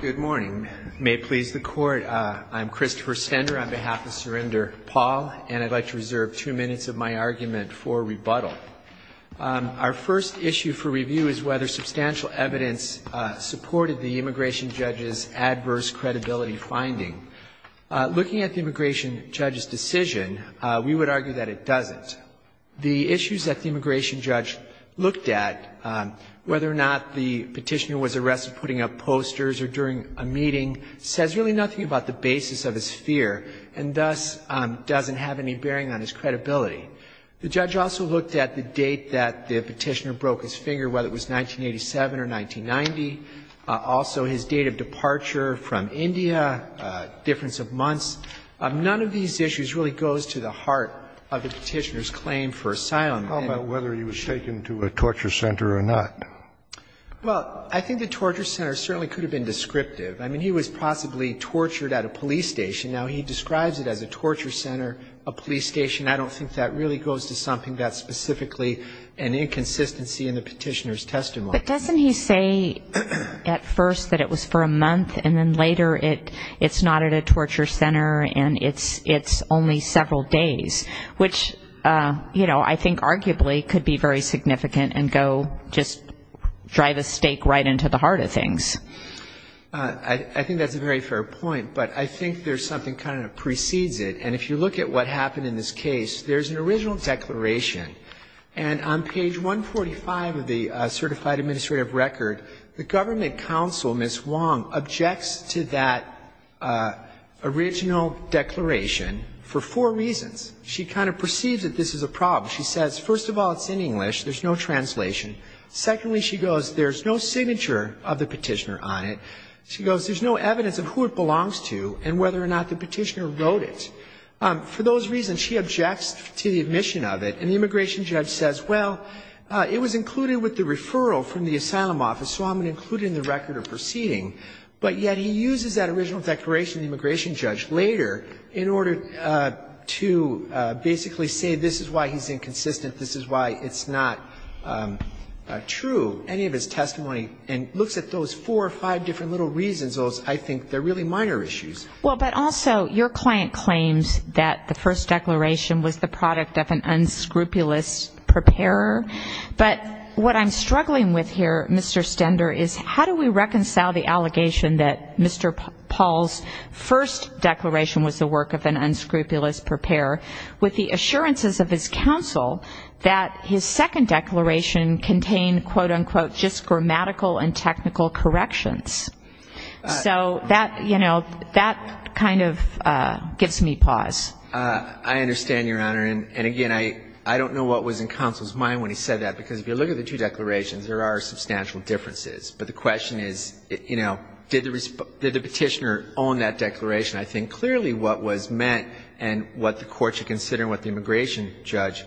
Good morning. May it please the Court, I'm Christopher Stender on behalf of Surrender Pal, and I'd like to reserve two minutes of my argument for rebuttal. Our first issue for review is whether substantial evidence supported the immigration judge's adverse credibility finding. Looking at the immigration judge's decision, we would argue that it doesn't. But the issues that the immigration judge looked at, whether or not the petitioner was arrested putting up posters or during a meeting, says really nothing about the basis of his fear, and thus doesn't have any bearing on his credibility. The judge also looked at the date that the petitioner broke his finger, whether it was 1987 or 1990, also his date of departure from India, difference of months. None of these issues really goes to the heart of the petitioner's claim for asylum. And whether he was taken to a torture center or not. Well, I think the torture center certainly could have been descriptive. I mean, he was possibly tortured at a police station. Now, he describes it as a torture center, a police station. I don't think that really goes to something that's specifically an inconsistency in the petitioner's testimony. But doesn't he say at first that it was for a month, and then later it's not at a torture center, and it's only several days? Which, you know, I think arguably could be very significant and go just drive a stake right into the heart of things. I think that's a very fair point. But I think there's something kind of that precedes it. And if you look at what happened in this case, there's an original declaration. And on page 145 of the certified administrative record, the government counsel, Ms. Wong, objects to that original declaration for four reasons. She kind of perceives that this is a problem. She says, first of all, it's in English, there's no translation. Secondly, she goes, there's no signature of the petitioner on it. She goes, there's no evidence of who it belongs to and whether or not the petitioner wrote it. For those reasons, she objects to the admission of it. And the immigration judge says, well, it was included with the referral from the asylum office, so I'm going to include it in the record of proceeding. But yet he uses that original declaration of the immigration judge later in order to basically say this is why he's inconsistent, this is why it's not true, any of his testimony, and looks at those four or five different little reasons. Those, I think, they're really minor issues. Well, but also your client claims that the first declaration was the product of an unscrupulous preparer. But what I'm struggling with here, Mr. Stender, is how do we reconcile the allegation that Mr. Paul's first declaration was the work of an unscrupulous preparer with the assurances of his counsel that his second declaration contained, quote-unquote, just grammatical and technical corrections? So that, you know, that kind of gives me pause. I understand, Your Honor, and again, I don't know what was in counsel's mind when he said that, because if you look at the two declarations, there are substantial differences, but the question is, you know, did the petitioner own that declaration? I think clearly what was meant and what the Court should consider and what the immigration judge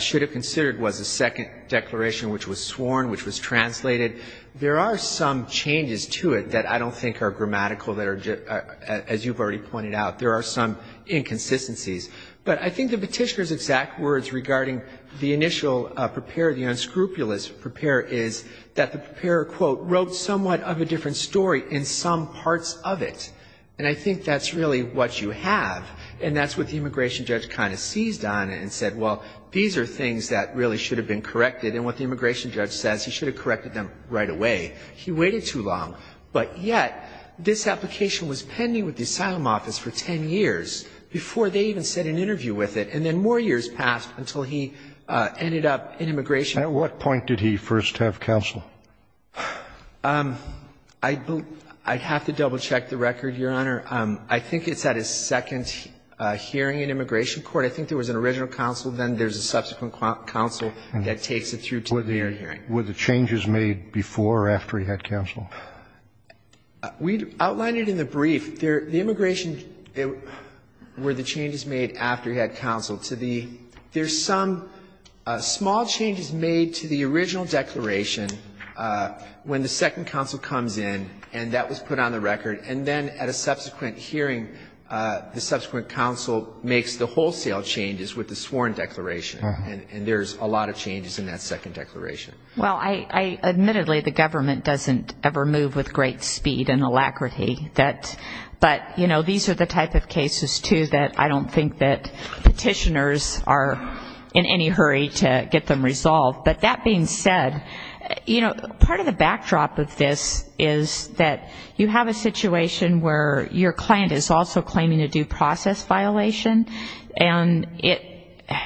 should have considered was the second declaration, which was sworn, which was translated, there are some changes to it that I don't think are grammatical, that are just, as you've already pointed out, there are some inconsistencies. But I think the petitioner's exact words regarding the initial preparer, the unscrupulous preparer is that the preparer, quote, wrote somewhat of a different story in some parts of it. And I think that's really what you have, and that's what the immigration judge kind of seized on and said, well, these are things that really are not in the original declaration, and what the immigration judge says, he should have corrected them right away. He waited too long, but yet, this application was pending with the asylum office for 10 years before they even set an interview with it, and then more years passed until he ended up in immigration. At what point did he first have counsel? I'd have to double-check the record, Your Honor. I think it's at his second hearing in immigration court. I think there was an original counsel, then there's a subsequent counsel that takes it through to the hearing. Were the changes made before or after he had counsel? We outlined it in the brief. The immigration, were the changes made after he had counsel? There's some small changes made to the original declaration when the second counsel comes in, and that was put on the record, and then at a subsequent hearing, the subsequent counsel makes the wholesale changes with the sworn declaration, and there's a lot of changes in that second declaration. Well, admittedly, the government doesn't ever move with great speed and alacrity, but these are the type of cases, too, that I don't think commissioners are in any hurry to get them resolved. But that being said, you know, part of the backdrop of this is that you have a situation where your client is also claiming a due process violation, and it,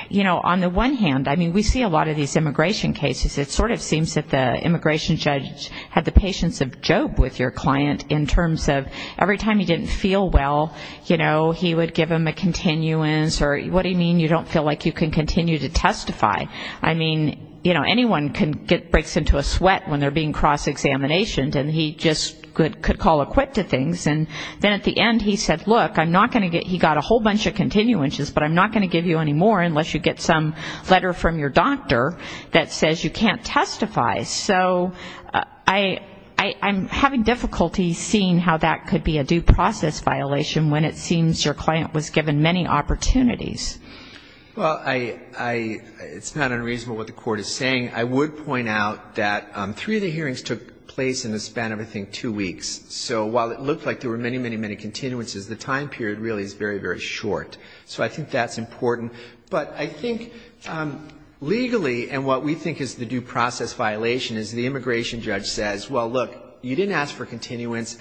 you know, on the one hand, I mean, we see a lot of these immigration cases, it sort of seems that the immigration judge had the patience of Job with your client in terms of every time he didn't feel well, you know, he would give him a continuance, or what do you mean you don't feel like you can continue to testify? I mean, you know, anyone can get, breaks into a sweat when they're being cross-examinationed, and he just could call a quit to things, and then at the end he said, look, I'm not going to get, he got a whole bunch of continuances, but I'm not going to give you any more unless you get some letter from your doctor that says you can't testify. So I'm having difficulty seeing how that could be a due process violation when it seems your client was given many, many opportunities. Well, I, it's not unreasonable what the Court is saying. I would point out that three of the hearings took place in the span of, I think, two weeks. So while it looked like there were many, many, many continuances, the time period really is very, very short. So I think that's important. But I think legally, and what we think is the due process violation, is the immigration judge says, well, look, you didn't ask for this,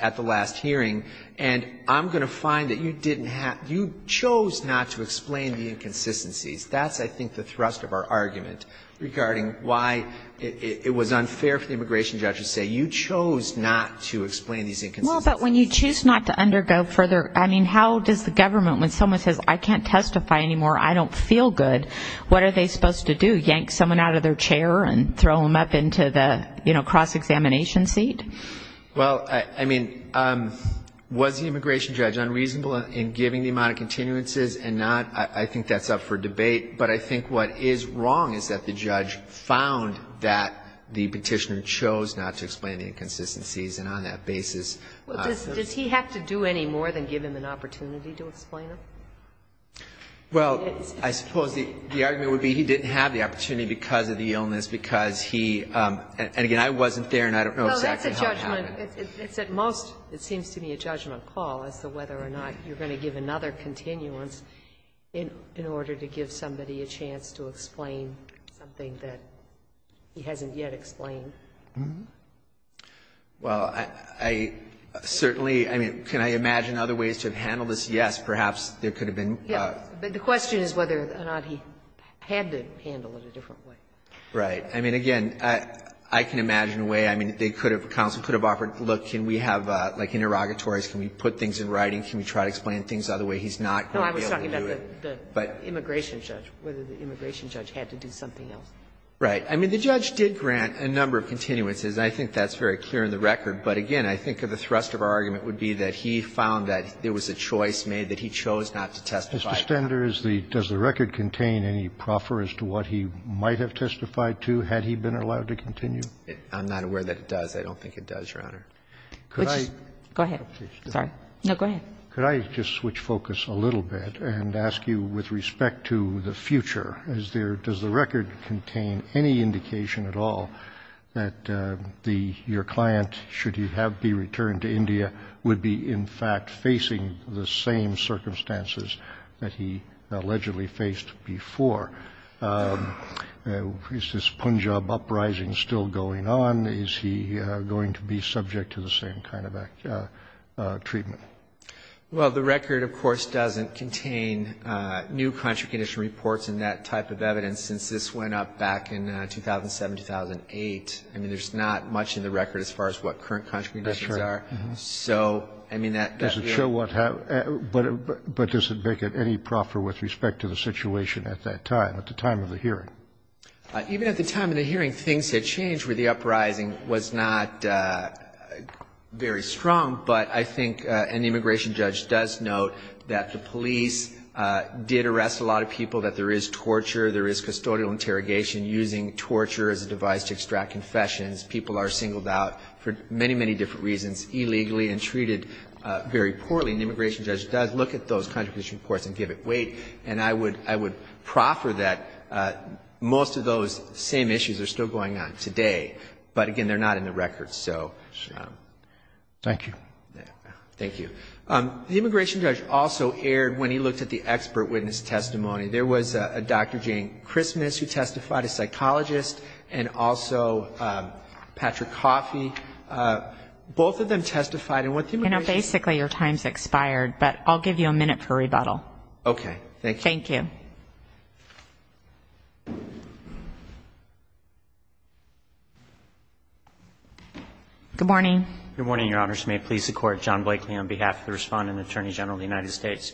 you chose not to explain the inconsistencies. That's, I think, the thrust of our argument regarding why it was unfair for the immigration judge to say, you chose not to explain these inconsistencies. Well, but when you choose not to undergo further, I mean, how does the government, when someone says, I can't testify anymore, I don't feel good, what are they supposed to do, yank someone out of their chair and throw them up into the, you know, cross-examination seat? Well, I mean, was the immigration judge unreasonable in giving the amount of continuances and not? I think that's up for debate. But I think what is wrong is that the judge found that the Petitioner chose not to explain the inconsistencies, and on that basis. Well, I suppose the argument would be he didn't have the opportunity because of the illness, because he, and again, I wasn't there and I don't know exactly how it happened. No, that's a judgment. It's at most, it seems to me, a judgment call as to whether or not you're going to give another continuance in order to give somebody a chance to explain something that he hasn't yet explained. Well, I certainly, I mean, can I imagine other ways to have handled this? Yes, perhaps there could have been. Yeah, but the question is whether or not he had to handle it a different way. Right. I mean, again, I can imagine a way. I mean, they could have, counsel could have offered, look, can we have, like, interrogatories, can we put things in writing, can we try to explain things the other way? He's not going to be able to do it. No, I was talking about the immigration judge, whether the immigration judge had to do something else. Right. I mean, the judge did grant a number of continuances. I think that's very clear in the record. But again, I think the thrust of our argument would be that he found that there was a choice made, that he chose not to testify. Mr. Stender, does the record contain any proffer as to what he might have testified to had he been allowed to continue? I'm not aware that it does. I don't think it does, Your Honor. Go ahead. Sorry. No, go ahead. Could I just switch focus a little bit and ask you with respect to the future, does the record contain any indication at all that your client, should he have been returned to India, would be in fact facing the same circumstances that he allegedly faced before? Is this Punjab uprising still going on? Is he going to be subject to the same kind of treatment? Well, the record, of course, doesn't contain new contra-condition reports and that type of evidence since this went up back in 2007, 2008. I mean, there's not much in the record as far as what current contra-conditions are. So, I mean, that Does it show what happened, but does it make it any proffer with respect to the situation at that time, at the time of the hearing? Even at the time of the hearing, things had changed where the uprising was not very strong, but I think an immigration judge does note that the police did arrest a lot of people, that there is torture, there is custodial interrogation using torture as a device to extract confessions. People are singled out for many, many different reasons, illegally and treated very poorly. And the immigration judge does look at those contra-condition reports and give it weight. And I would proffer that most of those same issues are still going on today. But again, they're not in the record, so. Thank you. Thank you. The immigration judge also erred when he looked at the expert witness testimony. There was a Dr. Jane Christmas who testified, a psychologist, and also Patrick Coffey. Both of them testified. You know, basically your time's expired, but I'll give you a minute for rebuttal. Okay, thank you. Thank you. Good morning. Good morning, Your Honors. May it please the Court. John Blakely on behalf of the Respondent Attorney General of the United States.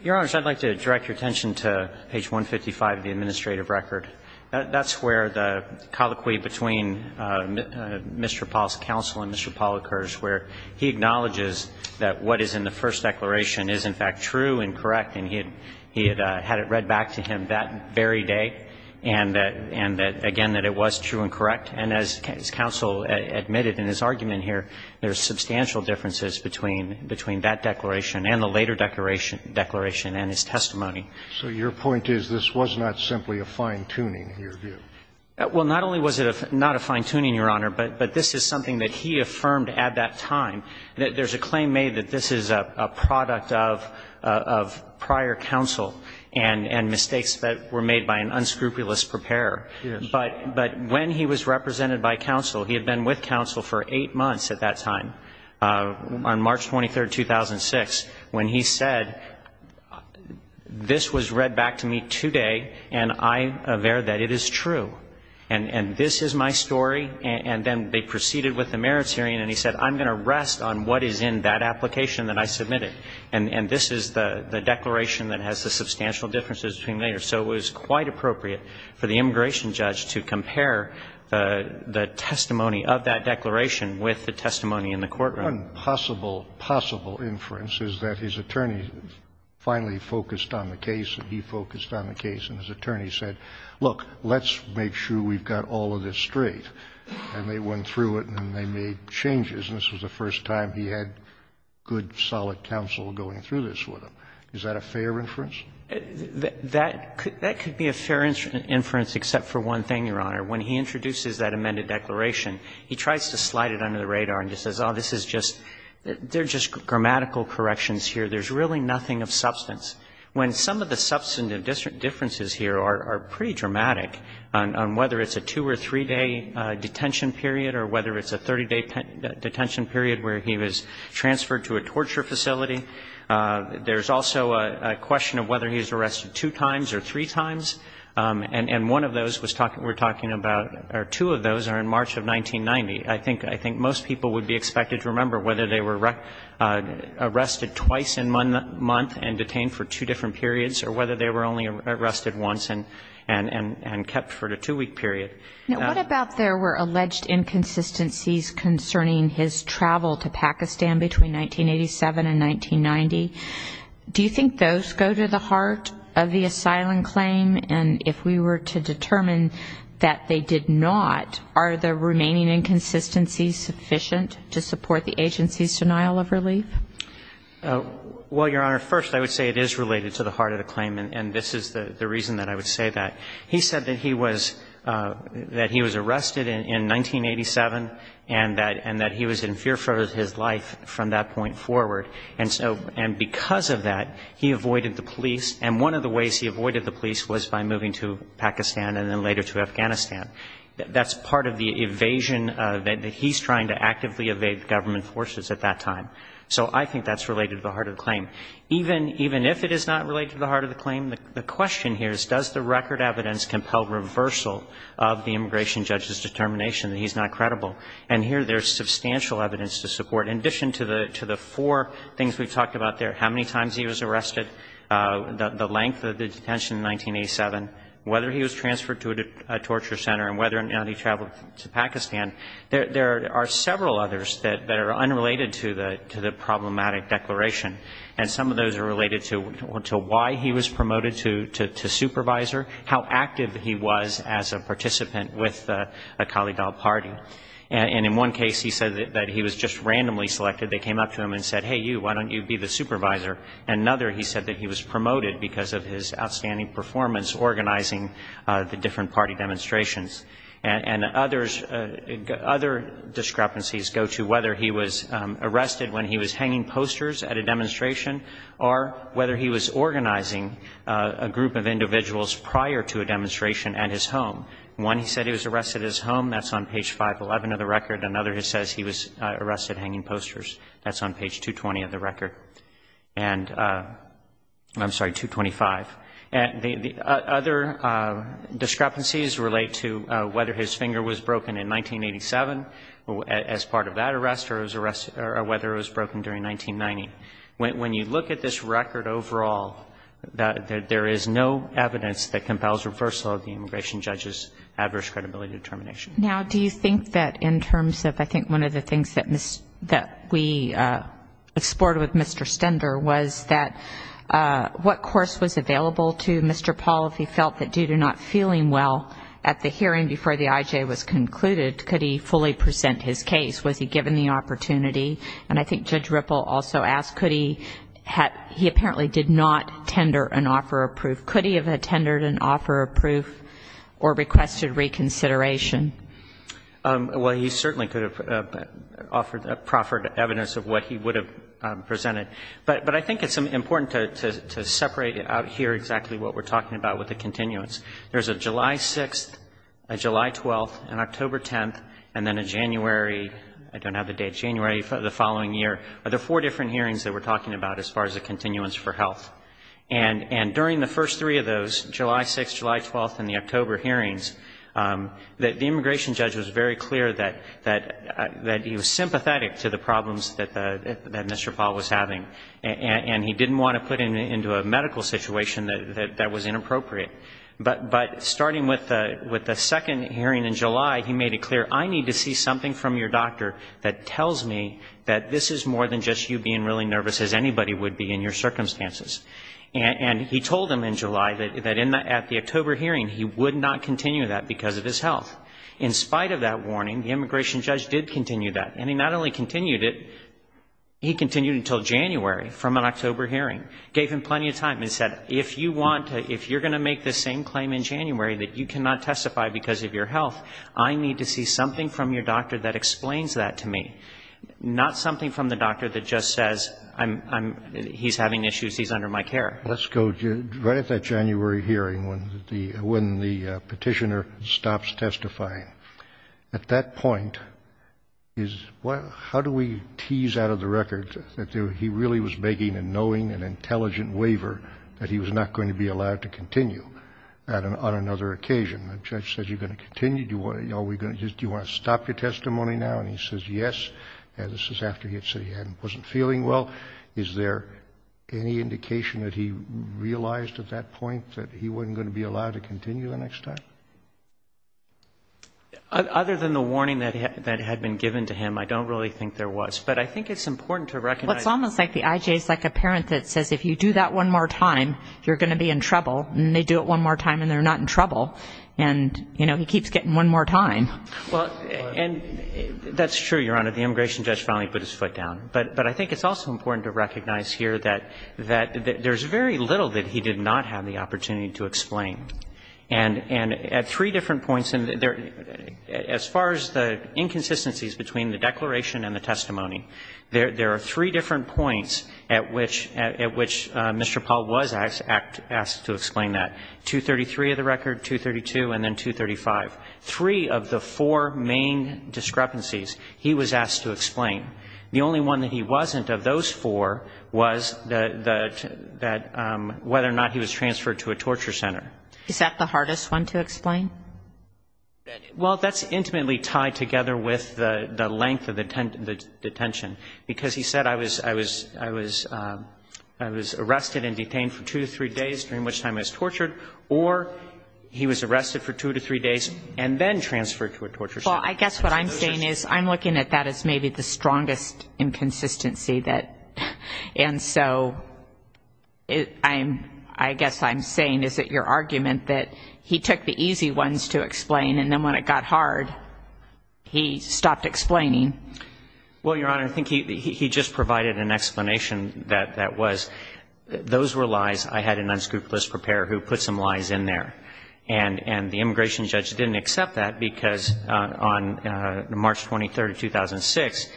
Your Honors, I'd like to direct your attention to page 155 of the administrative record. That's where the colloquy between Mr. Paul's counsel and Mr. Paul occurs, where he acknowledges that what is in the first declaration is, in fact, true and correct. And he had had it read back to him that very day, and that, again, that it was true and correct. And as counsel admitted in his argument here, there's substantial differences between that declaration and the later declaration and his testimony. So your point is this was not simply a fine-tuning, in your view? Well, not only was it not a fine-tuning, Your Honor, but this is something that he affirmed at that time. There's a claim made that this is a product of prior counsel and mistakes that were made by an unscrupulous preparer. Yes. But when he was represented by counsel, he had been with counsel for eight months at that time, on March 23, 2006, when he said, this was read back to me today, and I aver that it is true. And this is my story. And then they proceeded with the merits hearing, and he said, I'm going to rest on what is in that application that I submitted. And this is the declaration that has the substantial differences between later. So it was quite appropriate for the immigration judge to compare the testimony of that and the testimony in the courtroom. One possible, possible inference is that his attorney finally focused on the case and he focused on the case, and his attorney said, look, let's make sure we've got all of this straight. And they went through it and they made changes, and this was the first time he had good, solid counsel going through this with him. Is that a fair inference? That could be a fair inference except for one thing, Your Honor. When he introduces that amended declaration, he tries to slide it under the radar and he says, oh, this is just, they're just grammatical corrections here. There's really nothing of substance. When some of the substantive differences here are pretty dramatic, on whether it's a two- or three-day detention period or whether it's a 30-day detention period where he was transferred to a torture facility, there's also a question of whether he was arrested two times or three times. And one of those was talking, we're talking about, or two of those are in March of 1990. I think most people would be expected to remember whether they were arrested twice in one month and detained for two different periods or whether they were only arrested once and kept for a two-week period. Now, what about there were alleged inconsistencies concerning his travel to Pakistan between 1987 and 1990? Do you think those go to the heart of the asylum claim? And if we were to determine that they did not, are the remaining inconsistencies sufficient to support the agency's denial of relief? Well, Your Honor, first I would say it is related to the heart of the claim, and this is the reason that I would say that. He said that he was, that he was arrested in 1987 and that he was in fear for his life from that point forward. And so, and because of that, he avoided the police. And one of the ways he avoided the police was by moving to Pakistan and then later to Afghanistan. That's part of the evasion that he's trying to actively evade government forces at that time. So I think that's related to the heart of the claim. Even if it is not related to the heart of the claim, the question here is does the record evidence compel reversal of the immigration judge's determination that he's not credible? And here there's substantial evidence to support. In addition to the four things we've talked about there, how many times he was arrested, the length of the detention in 1987, whether he was transferred to a torture center and whether or not he traveled to Pakistan, there are several others that are unrelated to the problematic declaration. And some of those are related to why he was promoted to supervisor, how active he was as a participant with the Khalid al-Parti. And in one case, he said that he was just randomly selected. They came up to him and said, hey, you, why don't you be the supervisor? Another, he said that he was promoted because of his outstanding performance organizing the different party demonstrations. And others, other discrepancies go to whether he was arrested when he was hanging posters at a demonstration or whether he was organizing a group of individuals prior to a demonstration at his home. One, he said he was arrested at his home. That's on page 511 of the record. Another, he says he was arrested hanging posters. That's on page 220 of the record. And, I'm sorry, 225. The other discrepancies relate to whether his finger was broken in 1987 as part of that arrest or whether it was broken during 1990. When you look at this record overall, there is no evidence that compels reversal of the immigration judge's adverse credibility determination. Now, do you think that in terms of, I think one of the things that we explored with Mr. Stender was that what course was available to Mr. Paul if he felt that due to not feeling well at the hearing before the IJ was concluded, could he fully present his case? Was he given the opportunity? And I think Judge Ripple also asked, could he have, he apparently did not tender an offer of proof. Or requested reconsideration. Well, he certainly could have offered, proffered evidence of what he would have presented. But I think it's important to separate out here exactly what we're talking about with the continuance. There's a July 6th, a July 12th, and October 10th, and then a January, I don't have the date, January the following year. There are four different hearings that we're talking about as far as the continuance for health. And during the first three of those, July 6th, July 12th, and the October hearings, the immigration judge was very clear that he was sympathetic to the problems that Mr. Paul was having. And he didn't want to put him into a medical situation that was inappropriate. But starting with the second hearing in July, he made it clear, I need to see something from your doctor that tells me that this is more than just you being really nervous as he told him in July that at the October hearing, he would not continue that because of his health. In spite of that warning, the immigration judge did continue that. And he not only continued it, he continued it until January from an October hearing. Gave him plenty of time and said, if you want to, if you're going to make the same claim in January that you cannot testify because of your health, I need to see something from your doctor that explains that to me. Not something from the doctor that just says, he's having issues, he's under my care. Let's go right at that January hearing when the petitioner stops testifying. At that point, how do we tease out of the record that he really was begging and knowing an intelligent waiver that he was not going to be allowed to continue on another occasion? The judge says, you're going to continue, do you want to stop your testimony now? And he says, yes, and this is after he had said he wasn't feeling well. Is there any indication that he realized at that point that he wasn't going to be allowed to continue the next time? Other than the warning that had been given to him, I don't really think there was. But I think it's important to recognize... Well, it's almost like the IJ is like a parent that says, if you do that one more time, you're going to be in trouble, and they do it one more time and they're not in trouble. And, you know, he keeps getting one more time. Well, and that's true, Your Honor. The immigration judge finally put his foot down. But I think it's also important to recognize here that there's very little that he did not have the opportunity to explain. And at three different points, as far as the inconsistencies between the declaration and the testimony, there are three different points at which Mr. Paul was asked to explain that, 233 of the record, 232, and then 235. Three of the four main discrepancies he was asked to explain. The only one that he wasn't of those four was that whether or not he was transferred to a torture center. Is that the hardest one to explain? Well, that's intimately tied together with the length of the detention, because he said I was arrested and detained for two to three days, during which time I was tortured, or he was arrested for two to three days and then transferred to a torture center. Well, I guess what I'm saying is I'm looking at that as maybe the strongest inconsistency that ‑‑ and so I guess I'm saying, is it your argument, that he took the easy ones to explain, and then when it got hard, he stopped explaining? Well, Your Honor, I think he just provided an explanation that that was those were lies. I had an unscrupulous preparer who put some lies in there, and the immigration judge didn't accept that, because on March 23, 2006,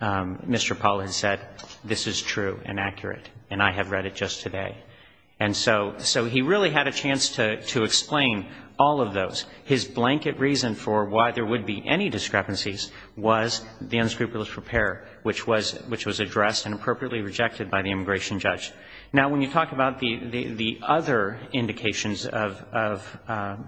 Mr. Paul had said, this is true and accurate, and I have read it just today. And so he really had a chance to explain all of those. His blanket reason for why there would be any discrepancies was the unscrupulous preparer, which was addressed and appropriately rejected by the immigration judge. Now, when you talk about the other indications of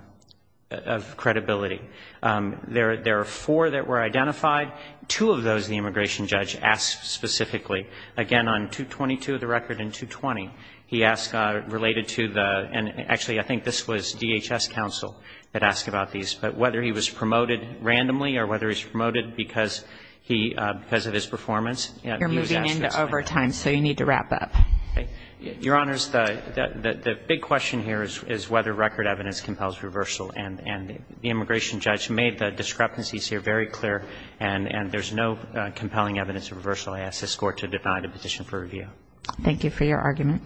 credibility, there are four that were identified. Two of those the immigration judge asked specifically. Again, on 222 of the record and 220, he asked related to the ‑‑ and actually, I think this was DHS counsel that asked about these, but whether he was promoted randomly or whether he was promoted because of his performance. You're moving into overtime, so you need to wrap up. Your Honors, the big question here is whether record evidence compels reversal, and the immigration judge made the discrepancies here very clear, and there's no compelling evidence of reversal. I ask this Court to deny the petition for review. Thank you for your argument.